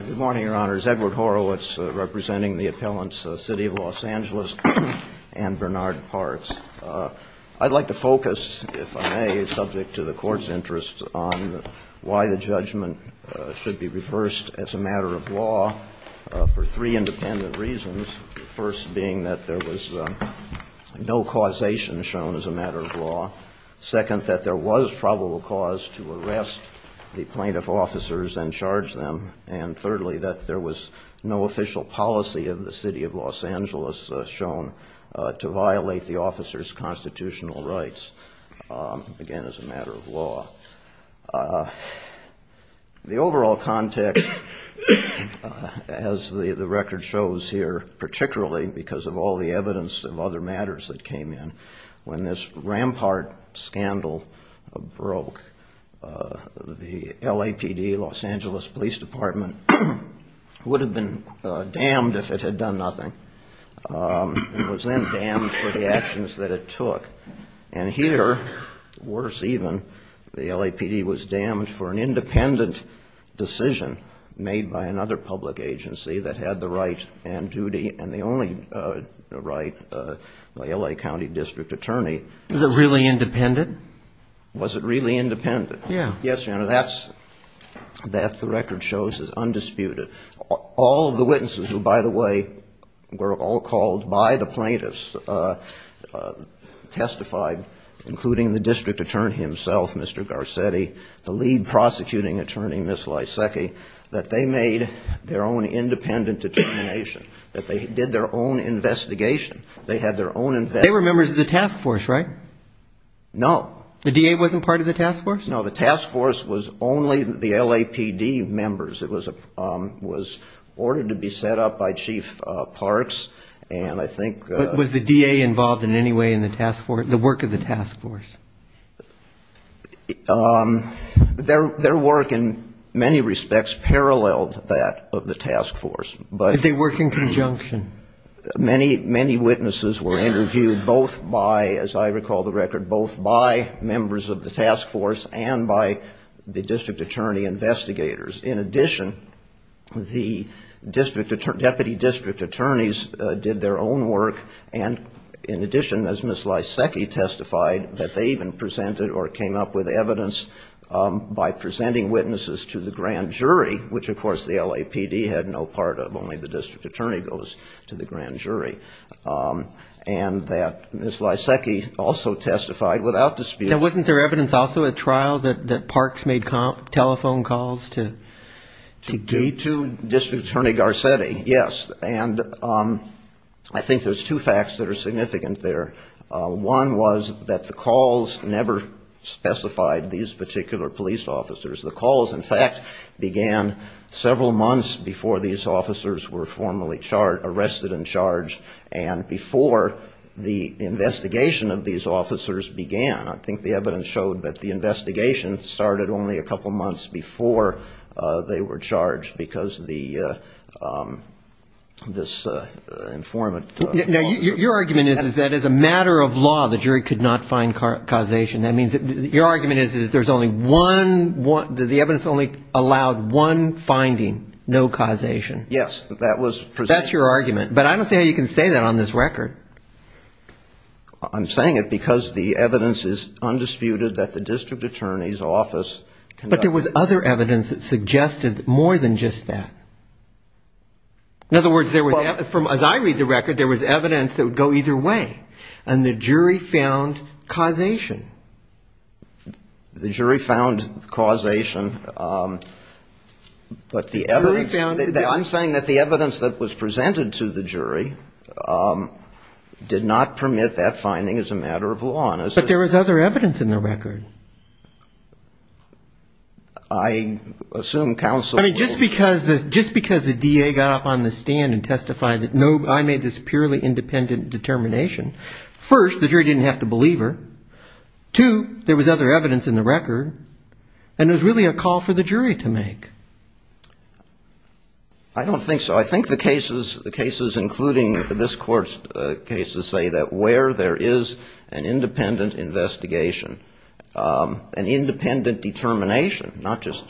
Good morning, Your Honors. Edward Horowitz, representing the appellants City of Los Angeles and Bernard Parts. I'd like to focus, if I may, subject to the Court's interest, on why the judgment should be reversed as a matter of law for three independent reasons. The first being that there was no causation shown as a matter of law. Second, that there was probable cause to arrest the plaintiff officers and charge them. And thirdly, that there was no official policy of the City of Los Angeles shown to violate the officers' constitutional rights, again, as a matter of law. The overall context, as the record shows here, particularly because of all the evidence of other matters that came in, when this rampart scandal broke, the LAPD, Los Angeles Police Department, would have been damned if it had done nothing. It was then damned for the actions that it took. And here, worse even, the LAPD was damned for an independent decision made by another public agency that had the right and duty and the only right, the L.A. County District Attorney. Was it really independent? Was it really independent? Yeah. Yes, Your Honor. That, the record shows, is undisputed. All of the witnesses, who, by the way, were all called by the plaintiffs, testified, including the District Attorney himself, Mr. Garcetti, the lead prosecuting attorney, Ms. Lysecki, that they made their own independent determination, that they did their own investigation. They had their own investigation. They were members of the task force, right? No. The DA wasn't part of the task force? No. The task force was only the LAPD members. It was ordered to be set up by Chief Parks, and I think ---- Was the DA involved in any way in the task force, the work of the task force? Their work, in many respects, paralleled that of the task force, but ---- Did they work in conjunction? Many witnesses were interviewed both by, as I recall the record, both by members of the task force and by the District Attorney investigators. In addition, the Deputy District Attorneys did their own work, and in addition, as Ms. Lysecki testified, that they even presented or came up with evidence by presenting witnesses to the grand jury, which, of course, the LAPD had no part of. Only the District Attorney goes to the grand jury, and that Ms. Lysecki also testified without dispute. Now, wasn't there evidence also at trial that Parks made telephone calls to ---- To District Attorney Garcetti, yes. And I think there's two facts that are significant there. One was that the calls never specified these particular police officers. The calls, in fact, began several months before these officers were formally arrested and charged and before the investigation of these officers began. I think the evidence showed that the investigation started only a couple months before they were charged because this informant ---- Now, your argument is that as a matter of law, the jury could not find causation. That means that your argument is that there's only one ---- that the evidence only allowed one finding, no causation. Yes, that was ---- That's your argument. But I don't see how you can say that on this record. I'm saying it because the evidence is undisputed that the District Attorney's office ---- But there was other evidence that suggested more than just that. In other words, there was ---- Well ---- As I read the record, there was evidence that would go either way, and the jury found causation. The jury found causation, but the evidence ---- The jury found ---- did not permit that finding as a matter of law. But there was other evidence in the record. I assume counsel ---- I mean, just because the DA got up on the stand and testified that I made this purely independent determination, first, the jury didn't have to believe her. Two, there was other evidence in the record, and it was really a call for the jury to make. I don't think so. So I think the cases, the cases including this Court's cases, say that where there is an independent investigation, an independent determination, not just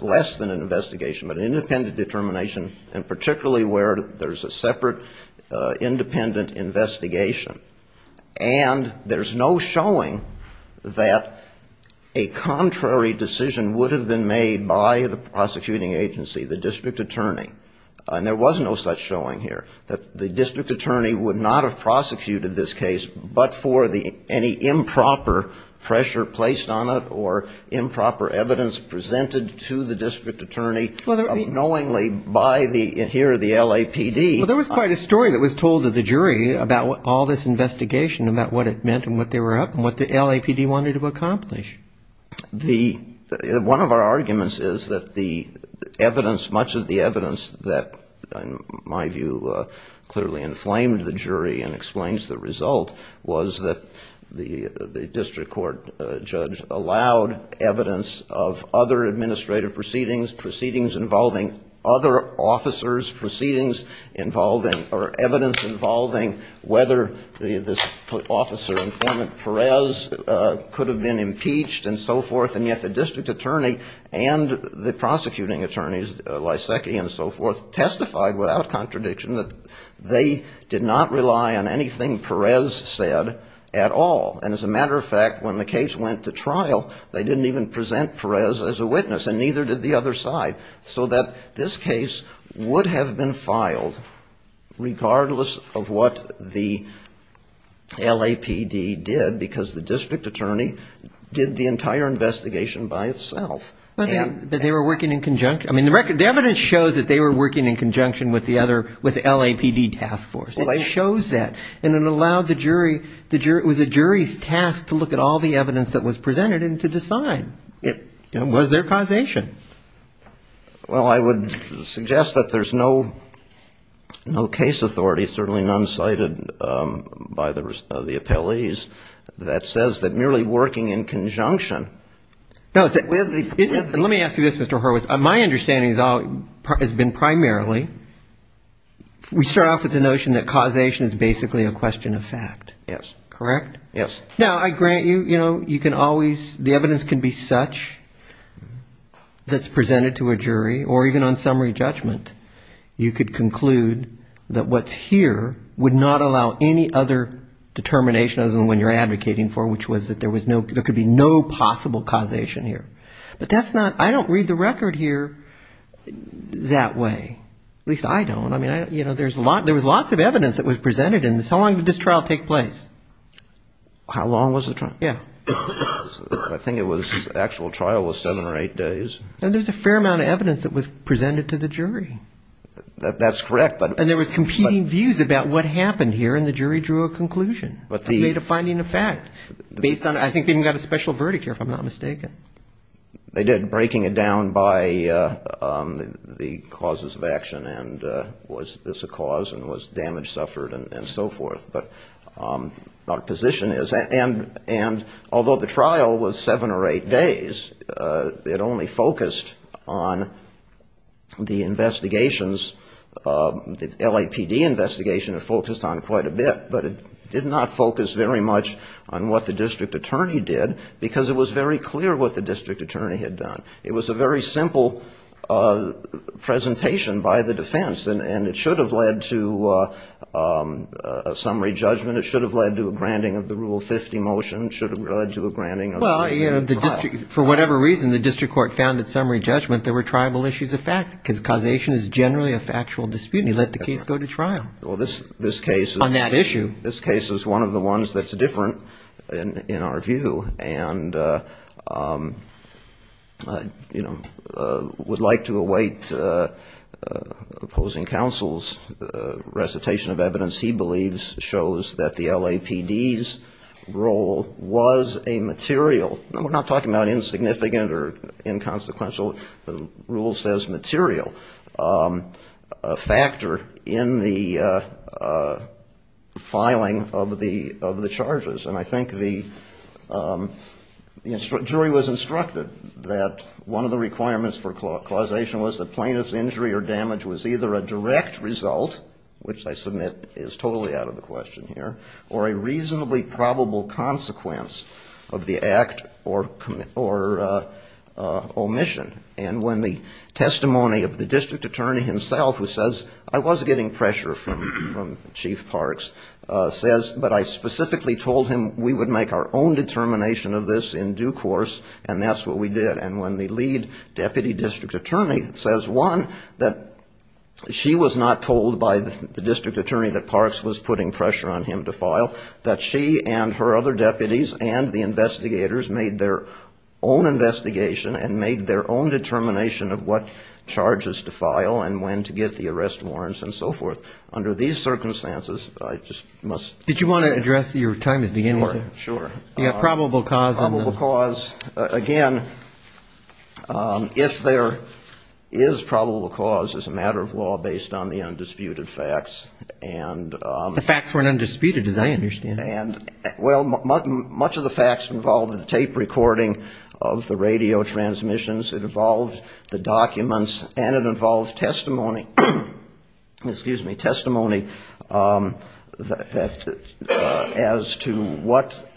less than an investigation, but an independent determination, and particularly where there's a separate independent investigation, and there's no showing that a contrary decision would have been made by the prosecuting agency, the District Attorney, and there was no such showing here, that the District Attorney would not have prosecuted this case but for the ---- any improper pressure placed on it or improper evidence presented to the District Attorney, unknowingly by the ---- here, the LAPD. Well, there was quite a story that was told to the jury about all this investigation, about what it meant and what they were up to One of our arguments is that the evidence, much of the evidence that, in my view, clearly inflamed the jury and explains the result, was that the district court judge allowed evidence of other administrative proceedings, proceedings involving other officers, proceedings involving or evidence involving whether this officer, the informant Perez, could have been impeached and so forth, and yet the District Attorney and the prosecuting attorneys, Lysakki and so forth, testified without contradiction that they did not rely on anything Perez said at all. And as a matter of fact, when the case went to trial, they didn't even present Perez as a witness, and neither did the other side, so that this case would have been filed regardless of what the LAPD did, because the District Attorney did the entire investigation by itself. But they were working in conjunction. I mean, the evidence shows that they were working in conjunction with the other, with the LAPD task force. It shows that. And it allowed the jury, it was the jury's task to look at all the evidence that was presented and to decide. Was there causation? Well, I would suggest that there's no case authority, certainly none cited by the appellees, that says that merely working in conjunction with the ---- Let me ask you this, Mr. Horowitz. My understanding has been primarily, we start off with the notion that causation is basically a question of fact. Yes. Correct? Yes. Now, I grant you, you know, you can always, the evidence can be such that's presented to a jury, or even on summary judgment. You could conclude that what's here would not allow any other determination other than what you're advocating for, which was that there could be no possible causation here. But that's not, I don't read the record here that way. At least I don't. I mean, you know, there was lots of evidence that was presented in this. How long did this trial take place? How long was the trial? Yeah. I think it was, the actual trial was seven or eight days. And there's a fair amount of evidence that was presented to the jury. That's correct. And there was competing views about what happened here, and the jury drew a conclusion. They made a finding of fact based on, I think they even got a special verdict here, if I'm not mistaken. They did, breaking it down by the causes of action, and was this a cause, and was damage suffered, and so forth. But our position is, and although the trial was seven or eight days, it only focused on the investigations, the LAPD investigation it focused on quite a bit. But it did not focus very much on what the district attorney did, because it was very clear what the district attorney had done. It was a very simple presentation by the defense, and it should have led to a summary judgment. It should have led to a granting of the Rule 50 motion. It should have led to a granting of the trial. Well, you know, for whatever reason, the district court found at summary judgment there were tribal issues of fact, because causation is generally a factual dispute. And he let the case go to trial. Well, this case is one of the ones that's different in our view. And I would like to await opposing counsel's recitation of evidence he believes shows that the LAPD's role was a material, we're not talking about insignificant or inconsequential, the rule says material factor in the LAPD's role. And I think the jury was instructed that one of the requirements for causation was that plaintiff's injury or damage was either a direct result, which I submit is totally out of the question here, or a reasonably probable consequence of the act or omission. And when the testimony of the district attorney himself, who says, I was getting pressure from Chief Parks, says, but I specifically told him we would make our own determination of this in due course, and that's what we did. And when the lead deputy district attorney says, one, that she was not told by the district attorney that Parks was putting pressure on him to file, that she and her other deputies and the investigators made their own investigation and made their own determination of this. And when the LAPD's role was a material, we would make our own determination of what charges to file and when to get the arrest warrants and so forth. Under these circumstances, I just must... Did you want to address your time at the end? Sure. Probable cause, again, if there is probable cause, it's a matter of law based on the undisputed facts. The facts weren't undisputed, as I understand. Well, much of the facts involved the tape recording of the radio transmissions, it involved the documents, and it involved testimony, excuse me, testimony as to what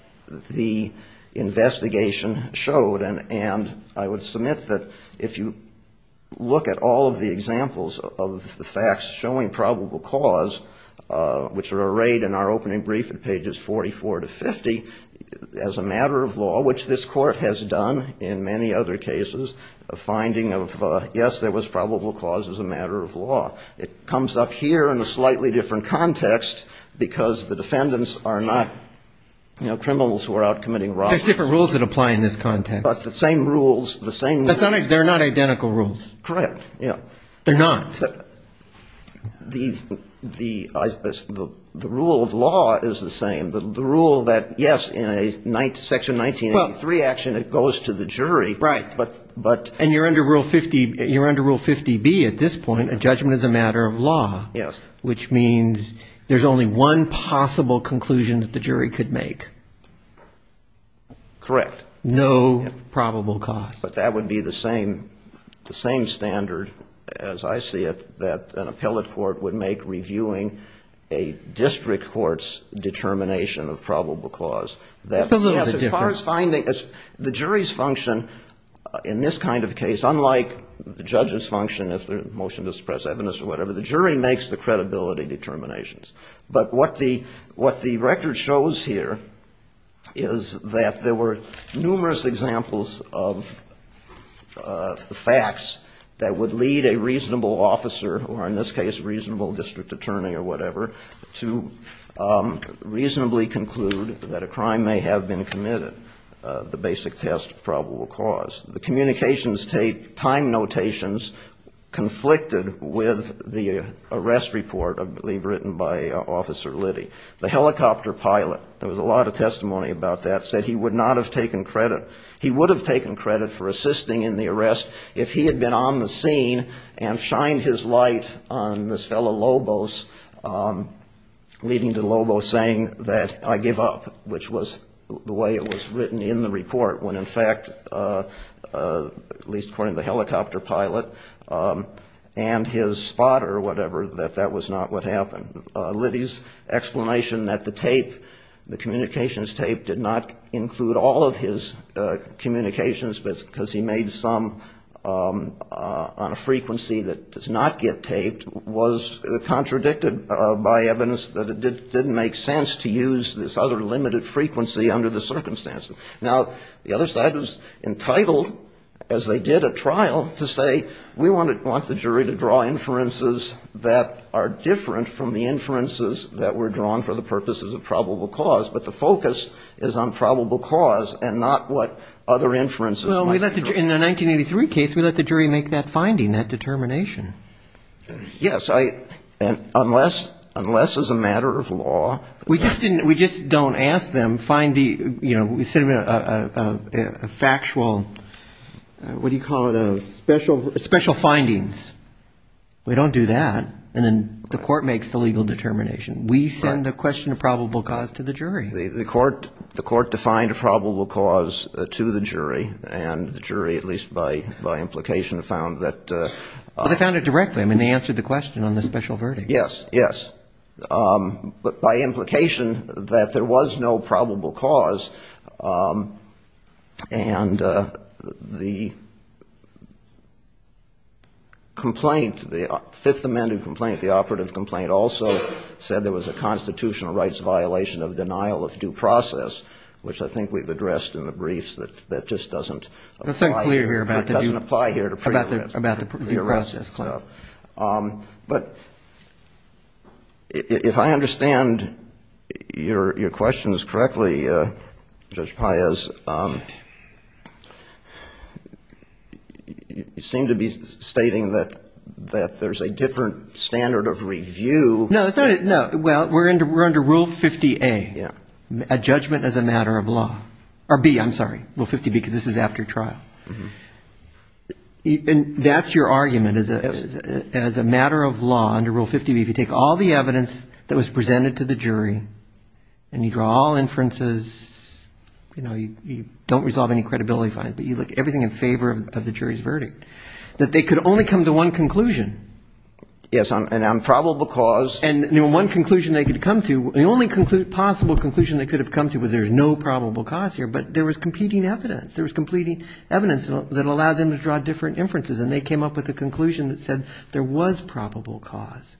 the investigation showed. And I would submit that if you look at all of the examples of the facts showing probable cause, it's a matter of law based on the undisputed facts. And there is also probable cause which were arrayed in our opening brief at pages 44 to 50 as a matter of law, which this court has done in many other cases, finding of, yes, there was probable cause as a matter of law. It comes up here in a slightly different context because the defendants are not, you know, criminals who are out committing robberies. There are different rules that apply in this context. But the same rules, the same rules... They're not identical rules. Correct, yeah. They're not. The rule of law is the same. The rule that, yes, in a Section 1983 action it goes to the jury. Right. And you're under Rule 50B at this point, a judgment as a matter of law, which means there's only one possible conclusion that the jury could make. Correct. No probable cause. But that would be the same standard, as I see it, that an appellate court would make reviewing a district court's determination of probable cause. That's a little bit different. Yes, as far as finding... The jury's function in this kind of case, unlike the judge's function if there's a motion to suppress evidence or whatever, the jury makes the credibility determinations. But what the record shows here is that there were numerous examples of facts that would lead a reasonable officer, or in this case a reasonable district attorney or whatever, to reasonably conclude that a crime may have been committed, the basic test of probable cause. The communications time notations conflicted with the arrest report, I believe, written by Officer Liddy. The helicopter pilot, there was a lot of testimony about that, said he would not have taken credit. He would have taken credit for assisting in the arrest if he had been on the scene and shined his light on this fellow Lobos, leading to Lobos saying that I give up, which was the way it was written in the report, when in fact, at least according to the helicopter pilot and his spotter or whatever, that that was not what happened. Liddy's explanation that the tape, the communications tape, did not include all of his communications, because he made some on a frequency that does not get taped, was contradicted by evidence that it didn't make sense to use this other limited frequency under the circumstances. Now, the other side was entitled, as they did at trial, to say we want the jury to draw inferences that are different from the inferences that were drawn for the purposes of probable cause. But the focus is on probable cause and not what other inferences might be. In the 1983 case, we let the jury make that finding, that determination. Yes. Unless as a matter of law. We just don't ask them, find the factual, what do you call it, special findings. We don't do that. And then the court makes the legal determination. We send a question of probable cause to the jury. The court defined a probable cause to the jury. And the jury, at least by implication, found that. They found it directly. I mean, they answered the question on the special verdict. Yes. Yes. But by implication, that there was no probable cause. And the complaint, the Fifth Amendment complaint, the operative complaint, also said there was a constitutional rights violation of denial of due process, which I think we've addressed in the briefs, that just doesn't apply here. Nothing clear here about the due process. But if I understand your questions correctly, Judge Paez, you seem to be stating that there's a different standard of review. No. Well, we're under Rule 50A, a judgment as a matter of law. Or B, I'm sorry, Rule 50B, because this is after trial. And that's your argument, as a matter of law, under Rule 50B, if you take all the evidence that was presented to the jury, and you draw all inferences, you know, you don't resolve any credibility fines, but you look everything in favor of the jury's verdict, that they could only come to one conclusion. Yes. And on probable cause. And one conclusion they could come to, the only possible conclusion they could have come to was there's no probable cause here. But there was competing evidence. There was competing evidence that allowed them to draw different inferences. And they came up with a conclusion that said there was probable cause.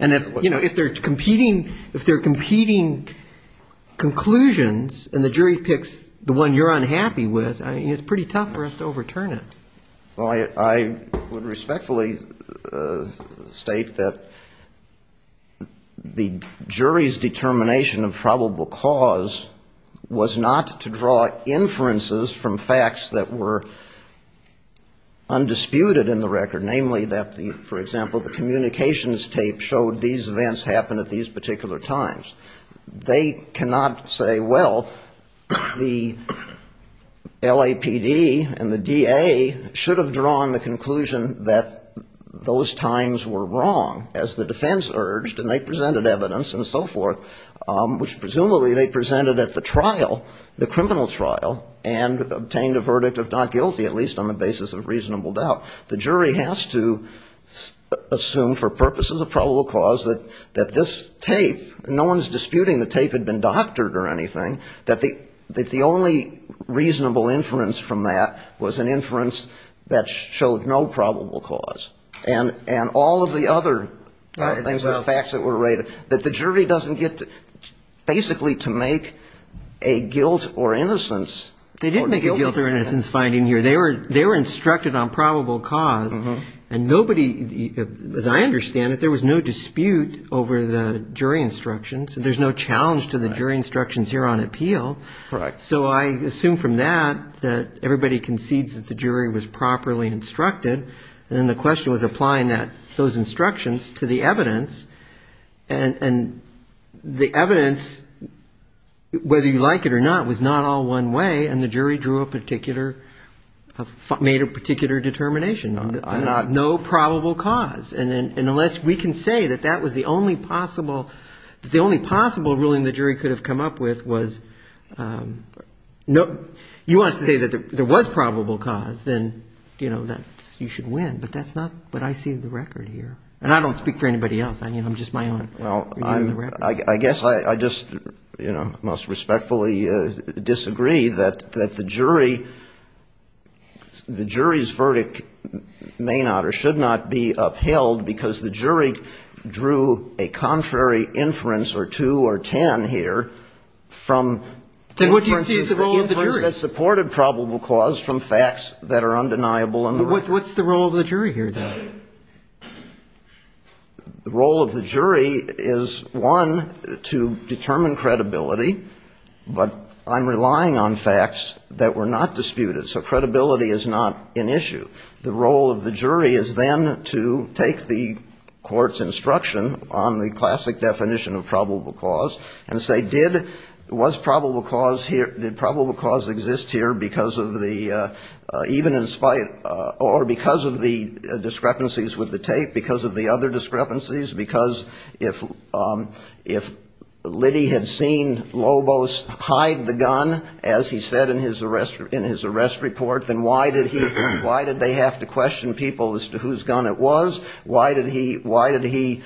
And, you know, if there are competing conclusions, and the jury picks the one you're unhappy with, it's pretty tough for us to overturn it. Well, I would respectfully state that the jury's determination of probable cause was not to draw inferences from facts that were undisputed in the record, namely that, for example, the communications tape showed these events happened at these particular times. They cannot say, well, the LAPD and the DA should have drawn the conclusion that those times were wrong, as the defense urged, and they presented evidence and so forth, which presumably they presented at the trial, the criminal trial, and obtained a verdict of not guilty, at least on the basis of reasonable doubt. The jury has to assume, for purposes of probable cause, that this tape, no one's disputing the tape had been doctored or anything, that the only reasonable inference from that was an inference that showed no probable cause. And all of the other things, the facts that were rated, that the jury doesn't get to basically to make a guilt or innocence. They didn't make a guilt or innocence finding here. They were instructed on probable cause, and nobody, as I understand it, there was no dispute over the jury instructions. There's no challenge to the jury instructions here on appeal. So I assume from that that everybody concedes that the jury was properly instructed, and then the question was applying those instructions to the evidence, and the evidence, whether you like it or not, was not all one way. And the jury drew a particular, made a particular determination. No probable cause. And unless we can say that that was the only possible, that the only possible ruling the jury could have come up with was, you want to say that there was probable cause, then, you know, you should win. But that's not what I see in the record here. And I don't speak for anybody else. I mean, I'm just my own. Well, I guess I just, you know, most respectfully disagree that the jury, the jury's verdict may not or should not be upheld because the jury drew a contrary inference or two or ten here from inferences that supported probable cause from facts that are undeniable in the record. But what's the role of the jury here, though? The role of the jury is, one, to determine credibility. But I'm relying on facts that were not disputed. So credibility is not an issue. The role of the jury is, then, to take the court's instruction on the classic definition of probable cause and say, did, was probable cause here, did probable cause exist here because of the, even in spite, or even in spite of the fact that there was probable cause? Or because of the discrepancies with the tape, because of the other discrepancies? Because if Liddy had seen Lobos hide the gun, as he said in his arrest report, then why did he, why did they have to question people as to whose gun it was? Why did he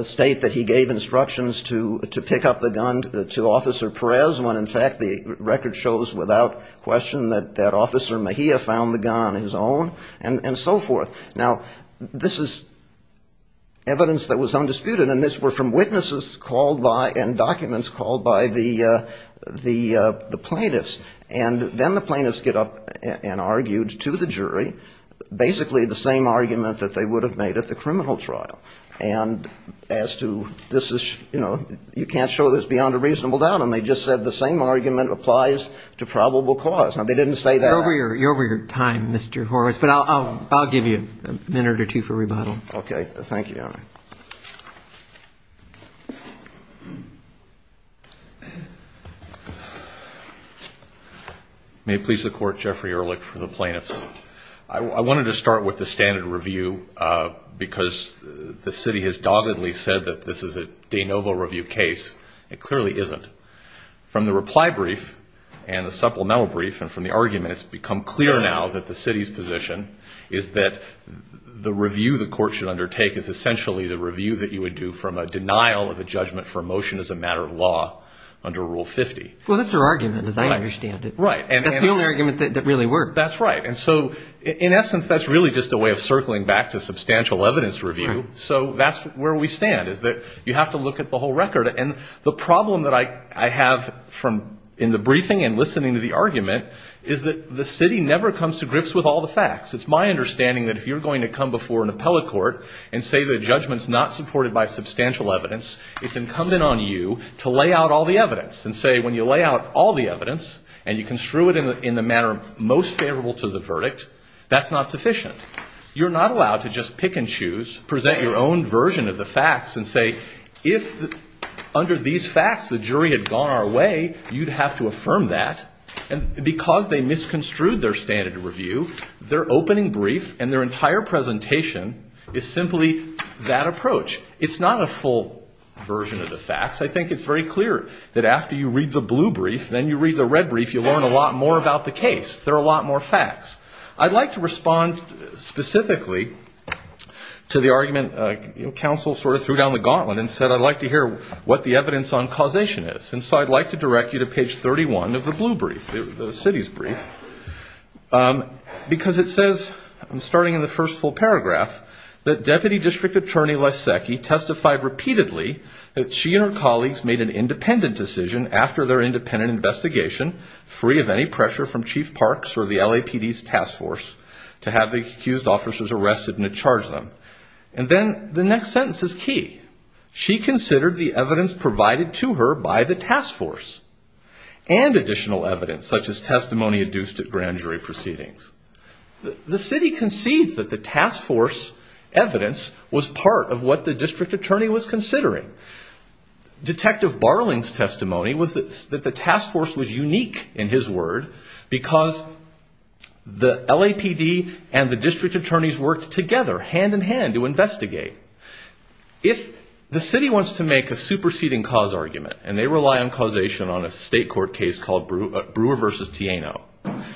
state that he gave instructions to pick up the gun to Officer Perez, when, in fact, the record shows without question that Officer Mejia found the gun in his office. And so forth. Now, this is evidence that was undisputed, and this were from witnesses called by, and documents called by the plaintiffs. And then the plaintiffs get up and argued to the jury basically the same argument that they would have made at the criminal trial. And as to this is, you know, you can't show this beyond a reasonable doubt, and they just said the same argument applies to probable cause. Now, they didn't say that. You're over your time, Mr. Horwitz, but I'll give you a minute or two for rebuttal. May it please the Court, Jeffrey Ehrlich for the plaintiffs. I wanted to start with the standard review, because the city has doggedly said that this is a de novo review case. It clearly isn't. From the reply brief and the supplemental brief and from the argument, it's become clear now that the city's position is that the review the court should undertake is essentially the review that you would do from a denial of a judgment for a motion as a matter of law under Rule 50. Well, that's their argument, as I understand it. Right. That's the only argument that really worked. That's right. And so in essence, that's really just a way of circling back to substantial evidence review. So that's where we stand, is that you have to look at the whole record. And the problem that I have from in the briefing and listening to the argument is that the city never comes to grips with all the facts. It's my understanding that if you're going to come before an appellate court and say the judgment's not supported by substantial evidence, it's incumbent on you to lay out all the evidence and say when you lay out all the evidence and you construe it in the manner most favorable to the verdict, that's not sufficient. You're not allowed to just pick and choose, present your own version of the facts and say if under these facts the jury had gone our way, you'd have to affirm that, and because they misconstrued their standard review, their opening brief and their entire presentation is simply that approach. It's not a full version of the facts. I think it's very clear that after you read the blue brief, then you read the red brief, you learn a lot more about the case. There are a lot more facts. I'd like to respond specifically to the argument counsel sort of threw down the gauntlet and said I'd like to hear what the evidence on causation is. I'm going to read the blue brief, the city's brief, because it says, starting in the first full paragraph, that Deputy District Attorney Lasecki testified repeatedly that she and her colleagues made an independent decision after their independent investigation free of any pressure from Chief Parks or the LAPD's task force to have the accused officers arrested and to charge them. And then the next sentence is key. She considered the evidence provided to her by the task force and additional evidence such as testimony adduced at grand jury proceedings. The city concedes that the task force evidence was part of what the district attorney was considering. Detective Barling's testimony was that the task force was unique in his word because the LAPD and the district attorneys worked together, hand in hand, to investigate. If the city wants to make a superseding cause argument, and they rely on causation on a state court case called Brewer v. Tieno,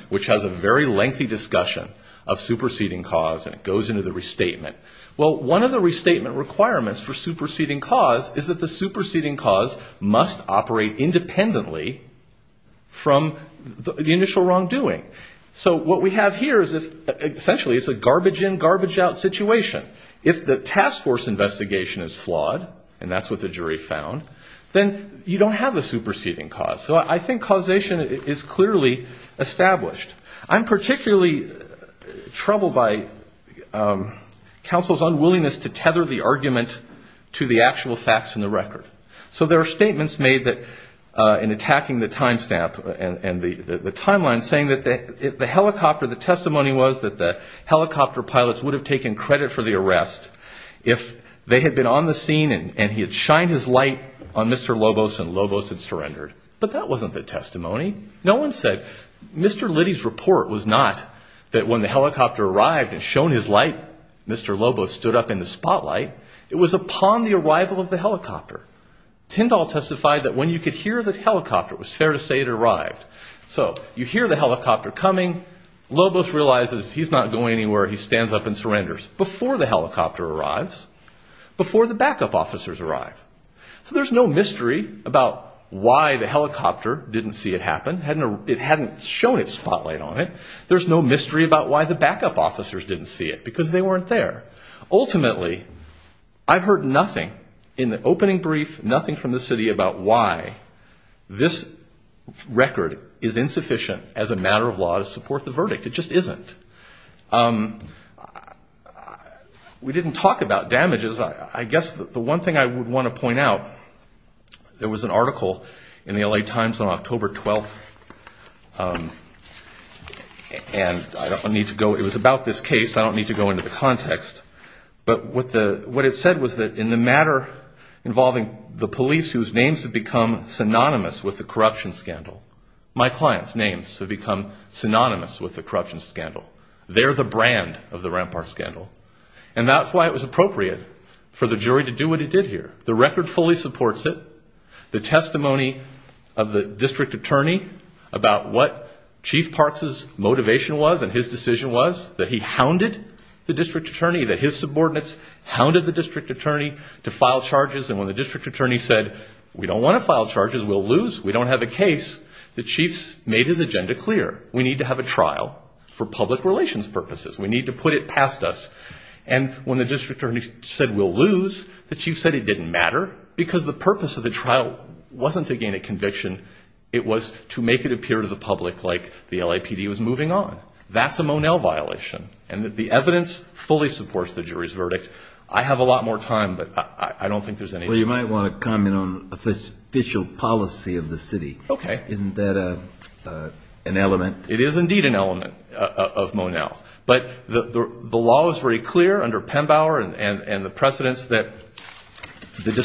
which has a very lengthy discussion of superseding cause and it goes into the restatement. Well, one of the restatement requirements for superseding cause is that the superseding cause must operate independently from the initial wrongdoing. So what we have here is essentially it's a garbage in, garbage out situation. If the task force investigation is flawed, and that's what the jury found, then you don't have a superseding cause. So I think causation is clearly established. I'm particularly troubled by counsel's unwillingness to tether the argument to the actual facts in the record. So there are statements made in attacking the time stamp and the timeline saying that the helicopter, the testimony was that the helicopter pilots would have taken credit for the arrest if they had been on the scene and he had shined his light on Mr. Lobos and Lobos had surrendered. But that wasn't the testimony. No one said Mr. Liddy's report was not that when the helicopter arrived and shone his light, Mr. Lobos stood up in the spotlight. It was upon the arrival of the helicopter. Tyndall testified that when you could hear the helicopter, it was fair to say it arrived. So you hear the helicopter coming. Lobos realizes he's not going anywhere. He stands up and surrenders. Before the helicopter arrives, before the backup officers arrive. So there's no mystery about why the helicopter didn't see it happen. It hadn't shown its spotlight on it. There's no mystery about why the backup officers didn't see it, because they weren't there. Ultimately, I heard nothing in the opening brief, nothing from the city about why this record is insufficient as a matter of law to support the verdict. It just isn't. We didn't talk about damages. I guess the one thing I would want to point out, there was an article in the L.A. Times on October 12th, and I don't need to go, it was about this case. I don't need to go into the context. But what it said was that in the matter involving the police whose names have become synonymous with the corruption scandal, my clients' names have become synonymous with the corruption scandal. They're the brand of the Rampart scandal. And that's why it was appropriate for the jury to do what it did here. The record fully supports it. The testimony of the district attorney about what Chief Parks' motivation was and his decision was, that he hounded the district attorney, that his subordinates hounded the district attorney to file charges. And when the district attorney said, we don't want to file charges, we'll lose, we don't have a case, the chiefs made his agenda clear. We need to have a trial for public relations purposes. We need to put it past us. And when the district attorney said, we'll lose, the chief said it didn't matter because the purpose of the trial wasn't to gain a conviction. It was to make it appear to the public like the LAPD was moving on. That's a Monell violation, and the evidence fully supports the jury's verdict. I have a lot more time, but I don't think there's any... The law is very clear under Pembauer and the precedents that the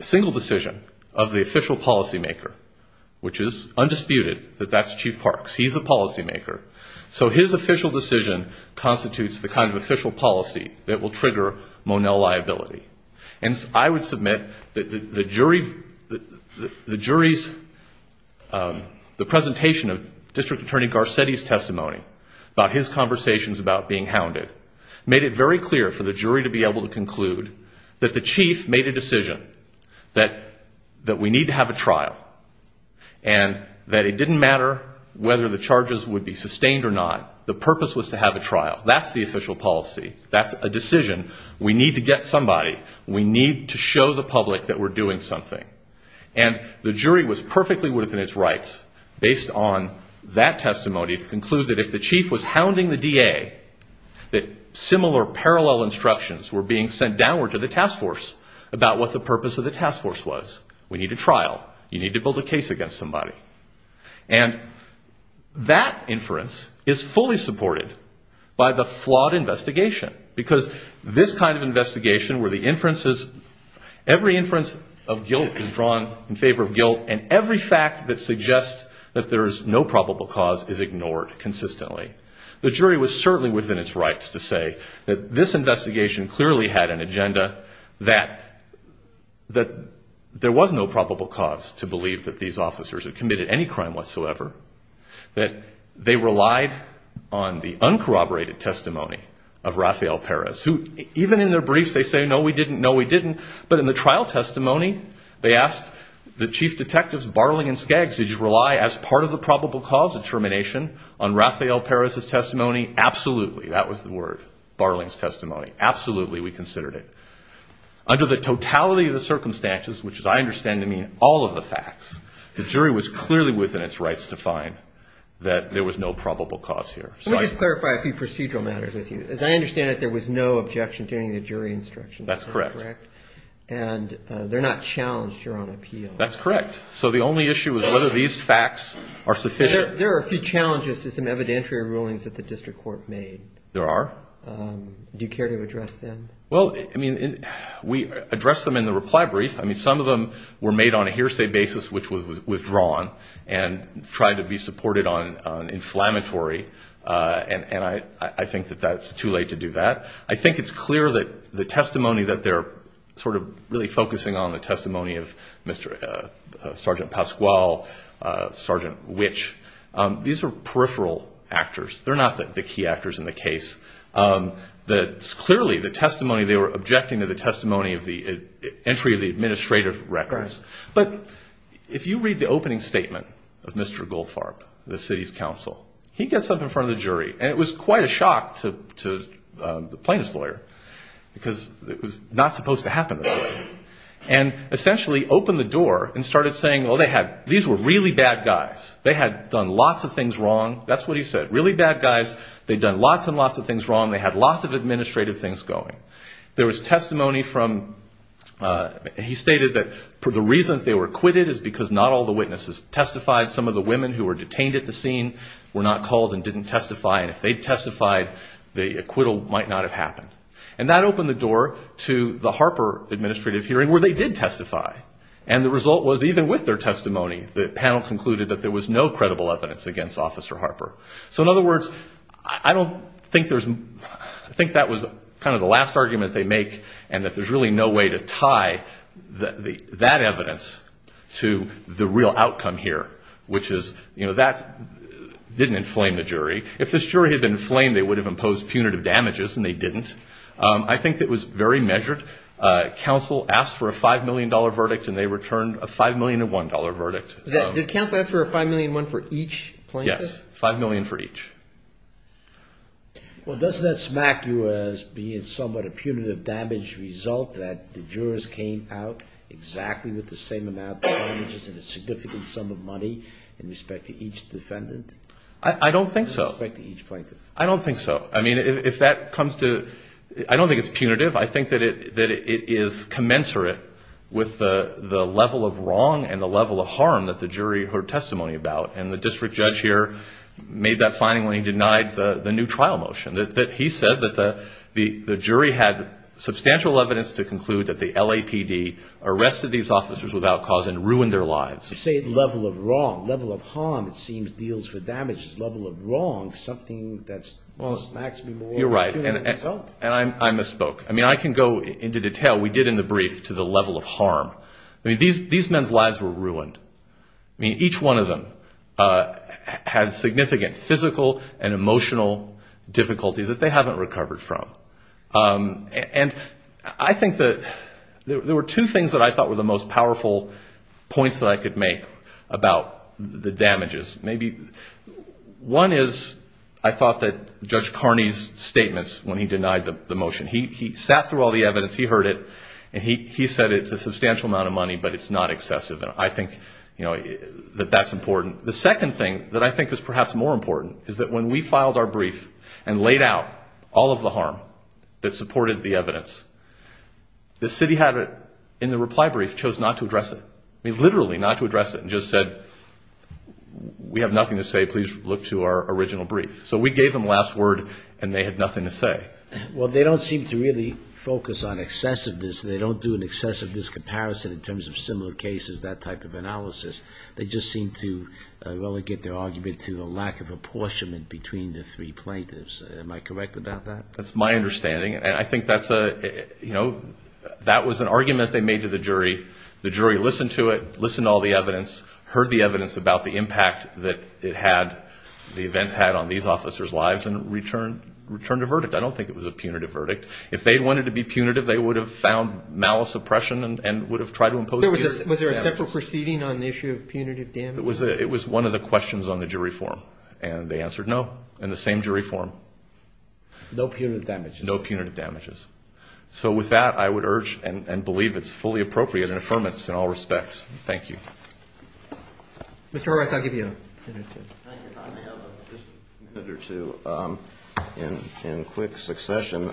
single decision of the official policymaker, which is undisputed, that that's Chief Parks. He's the policymaker. So his official decision constitutes the kind of official policy that will trigger Monell liability. And I would submit that the jury's... about his conversations about being hounded, made it very clear for the jury to be able to conclude that the chief made a decision, that we need to have a trial, and that it didn't matter whether the charges would be sustained or not. The purpose was to have a trial. That's the official policy. That's a decision. We need to get somebody. We need to show the public that we're doing something. And the jury was perfectly within its rights, based on that testimony, to conclude that if the chief was hounding the DA, that similar parallel instructions were being sent downward to the task force about what the purpose of the task force was. We need a trial. You need to build a case against somebody. And that inference is fully supported by the flawed investigation, because this kind of investigation where the inferences... Every inference of guilt is drawn in favor of guilt, and every fact that suggests that there is no probable cause is ignored consistently. The jury was certainly within its rights to say that this investigation clearly had an agenda that there was no probable cause to believe that these officers had committed any crime whatsoever, that they relied on the uncorroborated testimony of Rafael Perez, who even in their briefs they say, no, we didn't, no, we didn't. But in the trial testimony, they asked the chief detectives Barling and Skaggs, did you rely as part of the probable cause determination on Rafael Perez's testimony? Absolutely. That was the word, Barling's testimony. Absolutely we considered it. Under the totality of the circumstances, which is I understand to mean all of the facts, the jury was clearly within its rights to find that there was no probable cause here. Let me just clarify a few procedural matters with you. As I understand it, there was no objection to any of the jury instructions. That's correct. And they're not challenged here on appeal. That's correct. So the only issue is whether these facts are sufficient. There are a few challenges to some evidentiary rulings that the district court made. There are. Do you care to address them? Well, I mean, we addressed them in the reply brief. I mean, some of them were made on a hearsay basis, which was withdrawn, and tried to be supported on inflammatory. And I think that that's too late to do that. I think it's clear that the testimony that they're sort of really focusing on, the testimony of Sergeant Pasquale, Sergeant Witch, these are peripheral actors. They're not the key actors in the case. Clearly, the testimony they were objecting to, the testimony of the entry of the administrative records. But if you read the opening statement of Mr. Goldfarb, the city's counsel, he gets up in front of the jury, and it was quite a shock to the plaintiff's lawyer because it was not supposed to happen this way, and essentially opened the door and started saying, well, these were really bad guys. They had done lots of things wrong. That's what he said. Really bad guys. They'd done lots and lots of things wrong. They had lots of administrative things going. There was testimony from he stated that the reason they were acquitted is because not all the witnesses testified. Some of the women who were detained at the scene were not called and didn't testify, and if they testified, the acquittal might not have happened. And that opened the door to the Harper administrative hearing where they did testify, and the result was even with their testimony, the panel concluded that there was no credible evidence against Officer Harper. So, in other words, I don't think there's, I think that was kind of the last argument they make and that there's really no way to tie that evidence to the real outcome here, which is, you know, that didn't inflame the jury. If this jury had been inflamed, they would have imposed punitive damages, and they didn't. I think it was very measured. Counsel asked for a $5 million verdict, and they returned a $5 million to $1 verdict. Did counsel ask for a $5 million for each plaintiff? Yes, $5 million for each. Well, doesn't that smack you as being somewhat a punitive damage result that the jurors came out exactly with the same amount of damages and a significant sum of money in respect to each defendant? I don't think so. In respect to each plaintiff. I don't think so. I mean, if that comes to, I don't think it's punitive. I think that it is commensurate with the level of wrong and the level of harm that the jury heard testimony about. And the district judge here made that finding when he denied the new trial motion. He said that the jury had substantial evidence to conclude that the LAPD arrested these officers without cause and ruined their lives. You say level of wrong. Level of harm, it seems, deals with damages. Level of wrong, something that smacks me more than the result. You're right. And I misspoke. I mean, I can go into detail. We did in the brief to the level of harm. I mean, these men's lives were ruined. I mean, each one of them had significant physical and emotional difficulties that they haven't recovered from. And I think that there were two things that I thought were the most powerful points that I could make about the damages. One is I thought that Judge Carney's statements when he denied the motion. He sat through all the evidence. He heard it. And he said it's a substantial amount of money, but it's not excessive. And I think that that's important. The second thing that I think is perhaps more important is that when we filed our brief and laid out all of the harm that supported the evidence, the city had, in the reply brief, I mean, literally not to address it, and just said, we have nothing to say. Please look to our original brief. So we gave them last word, and they had nothing to say. Well, they don't seem to really focus on excessiveness. They don't do an excessiveness comparison in terms of similar cases, that type of analysis. They just seem to relegate their argument to the lack of apportionment between the three plaintiffs. Am I correct about that? That's my understanding. And I think that's a, you know, that was an argument they made to the jury. The jury listened to it, listened to all the evidence, heard the evidence about the impact that it had, the events had on these officers' lives, and returned a verdict. I don't think it was a punitive verdict. If they wanted to be punitive, they would have found malice, oppression, and would have tried to impose punitive damage. Was there a separate proceeding on the issue of punitive damage? It was one of the questions on the jury forum. And they answered no in the same jury forum. No punitive damage. No punitive damages. So with that, I would urge and believe it's fully appropriate as an affirmance in all respects. Thank you. Mr. Horwath, I'll give you a minute or two. Thank you, Tommy. I have just a minute or two in quick succession.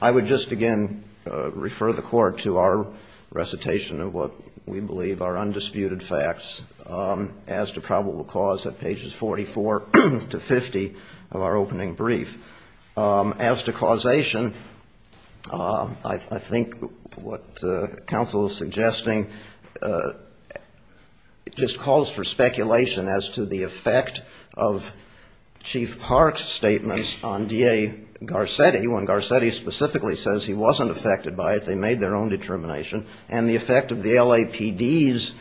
I would just again refer the Court to our recitation of what we believe are undisputed facts as to probable cause at pages 44 to 50 of our opening brief. As to causation, I think what counsel is suggesting just calls for speculation as to the effect of Chief Park's statements on D.A. Garcetti, when Garcetti specifically says he wasn't affected by it, they made their own determination, and the effect of the LAPD's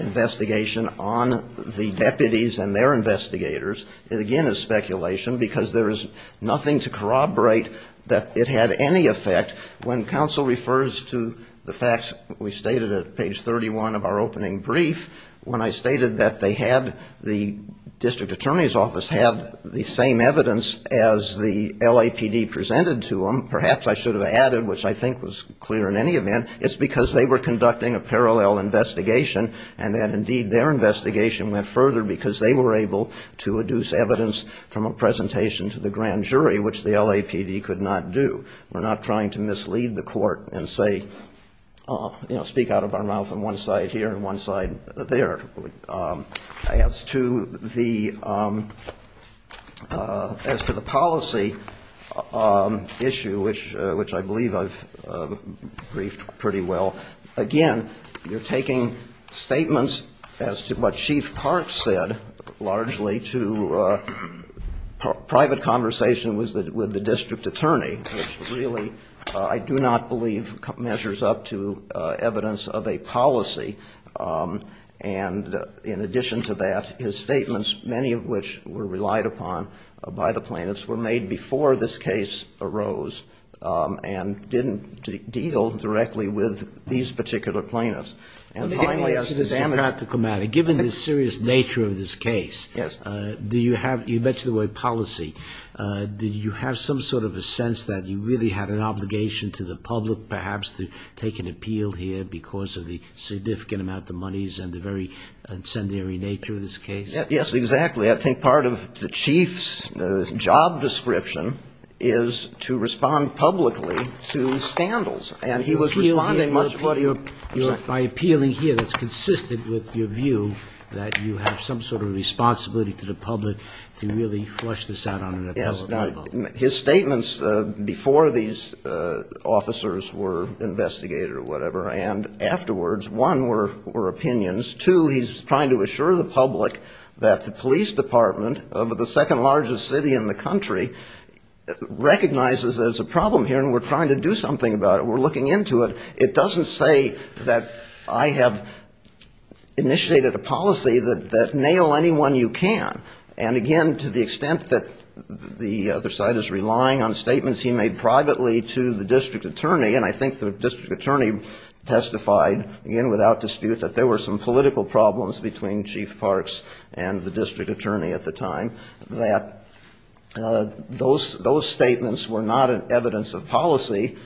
investigation on the deputies and their investigators, again, is speculation, because there is nothing to corroborate that it had any effect. When counsel refers to the facts we stated at page 31 of our opening brief, when I stated that they had the district attorney's office have the same evidence as the LAPD presented to them, perhaps I should have added, which I think was clear in any event, it's because they were conducting a parallel investigation and that indeed their investigation went further because they were able to adduce evidence from a presentation to the grand jury, which the LAPD could not do. We're not trying to mislead the Court and say, you know, speak out of our mouth on one side here and one side there. As to the policy issue, which I believe I've briefed pretty well, again, you're taking statements as to what Chief Park said largely to private conversation with the district attorney, which really, I do not believe, measures up to evidence of a policy. And in addition to that, his statements, many of which were relied upon by the plaintiffs, were made before this case arose and didn't deal directly with these particular plaintiffs. And finally, as to damage to the practical matter, given the serious nature of this case, do you have to mention the word policy, do you have some sort of a sense that you really had an obligation to the public perhaps to take an appeal here because of the significant amount of monies and the very incendiary nature of this case? Yes, exactly. I think part of the Chief's job description is to respond publicly to scandals. And he was responding much more to your point. By appealing here, that's consistent with your view that you have some sort of responsibility to the public to really flush this out on an appellate level. His statements before these officers were investigated or whatever and afterwards, one, were opinions. Two, he's trying to assure the public that the police department of the second largest city in the country recognizes there's a problem here and we're trying to do something about it, we're looking into it. It doesn't say that I have initiated a policy that nail anyone you can. And, again, to the extent that the other side is relying on statements he made privately to the district attorney, and I think the district attorney testified, again, without dispute, that there were some political problems between Chief Parks and the district attorney at the time, that those statements were not evidence of policy,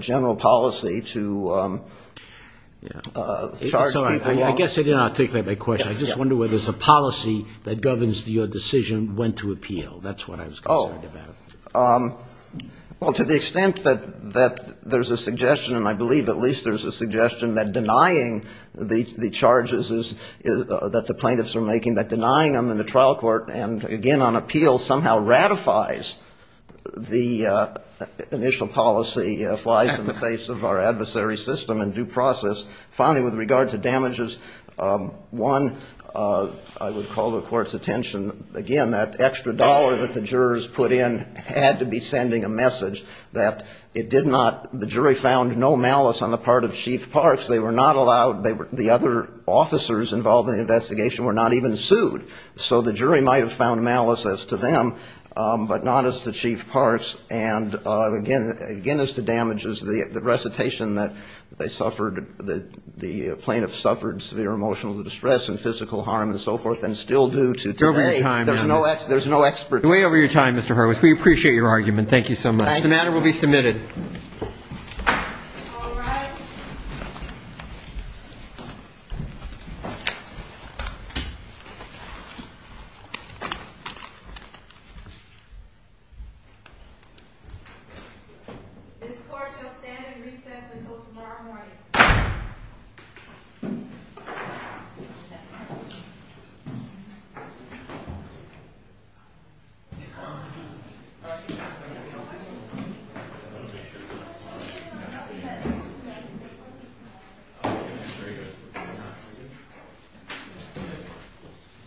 general policy to charge people. I guess I did not take that by question. I just wonder whether it's a policy that governs your decision when to appeal. That's what I was concerned about. Well, to the extent that there's a suggestion, and I believe at least there's a suggestion, that denying the charges that the plaintiffs are making, that denying them in the trial court and, again, on appeal somehow ratifies the initial policy, flies in the face of our adversary system and due process. Finally, with regard to damages, one, I would call the court's attention, again, that extra dollar that the jurors put in had to be sending a message that it did not, the jury found no malice on the part of Chief Parks. They were not allowed, the other officers involved in the investigation were not even sued. So the jury might have found malice as to them, but not as to Chief Parks, and again, as to damages, the recitation that they suffered, the plaintiffs suffered severe emotional distress and physical harm and so forth, and still do to today. You're over your time. There's no expert. You're way over your time, Mr. Horowitz. We appreciate your argument. Thank you so much. Thank you. This order will be submitted. All rise. This court shall stand in recess until tomorrow morning. Thank you.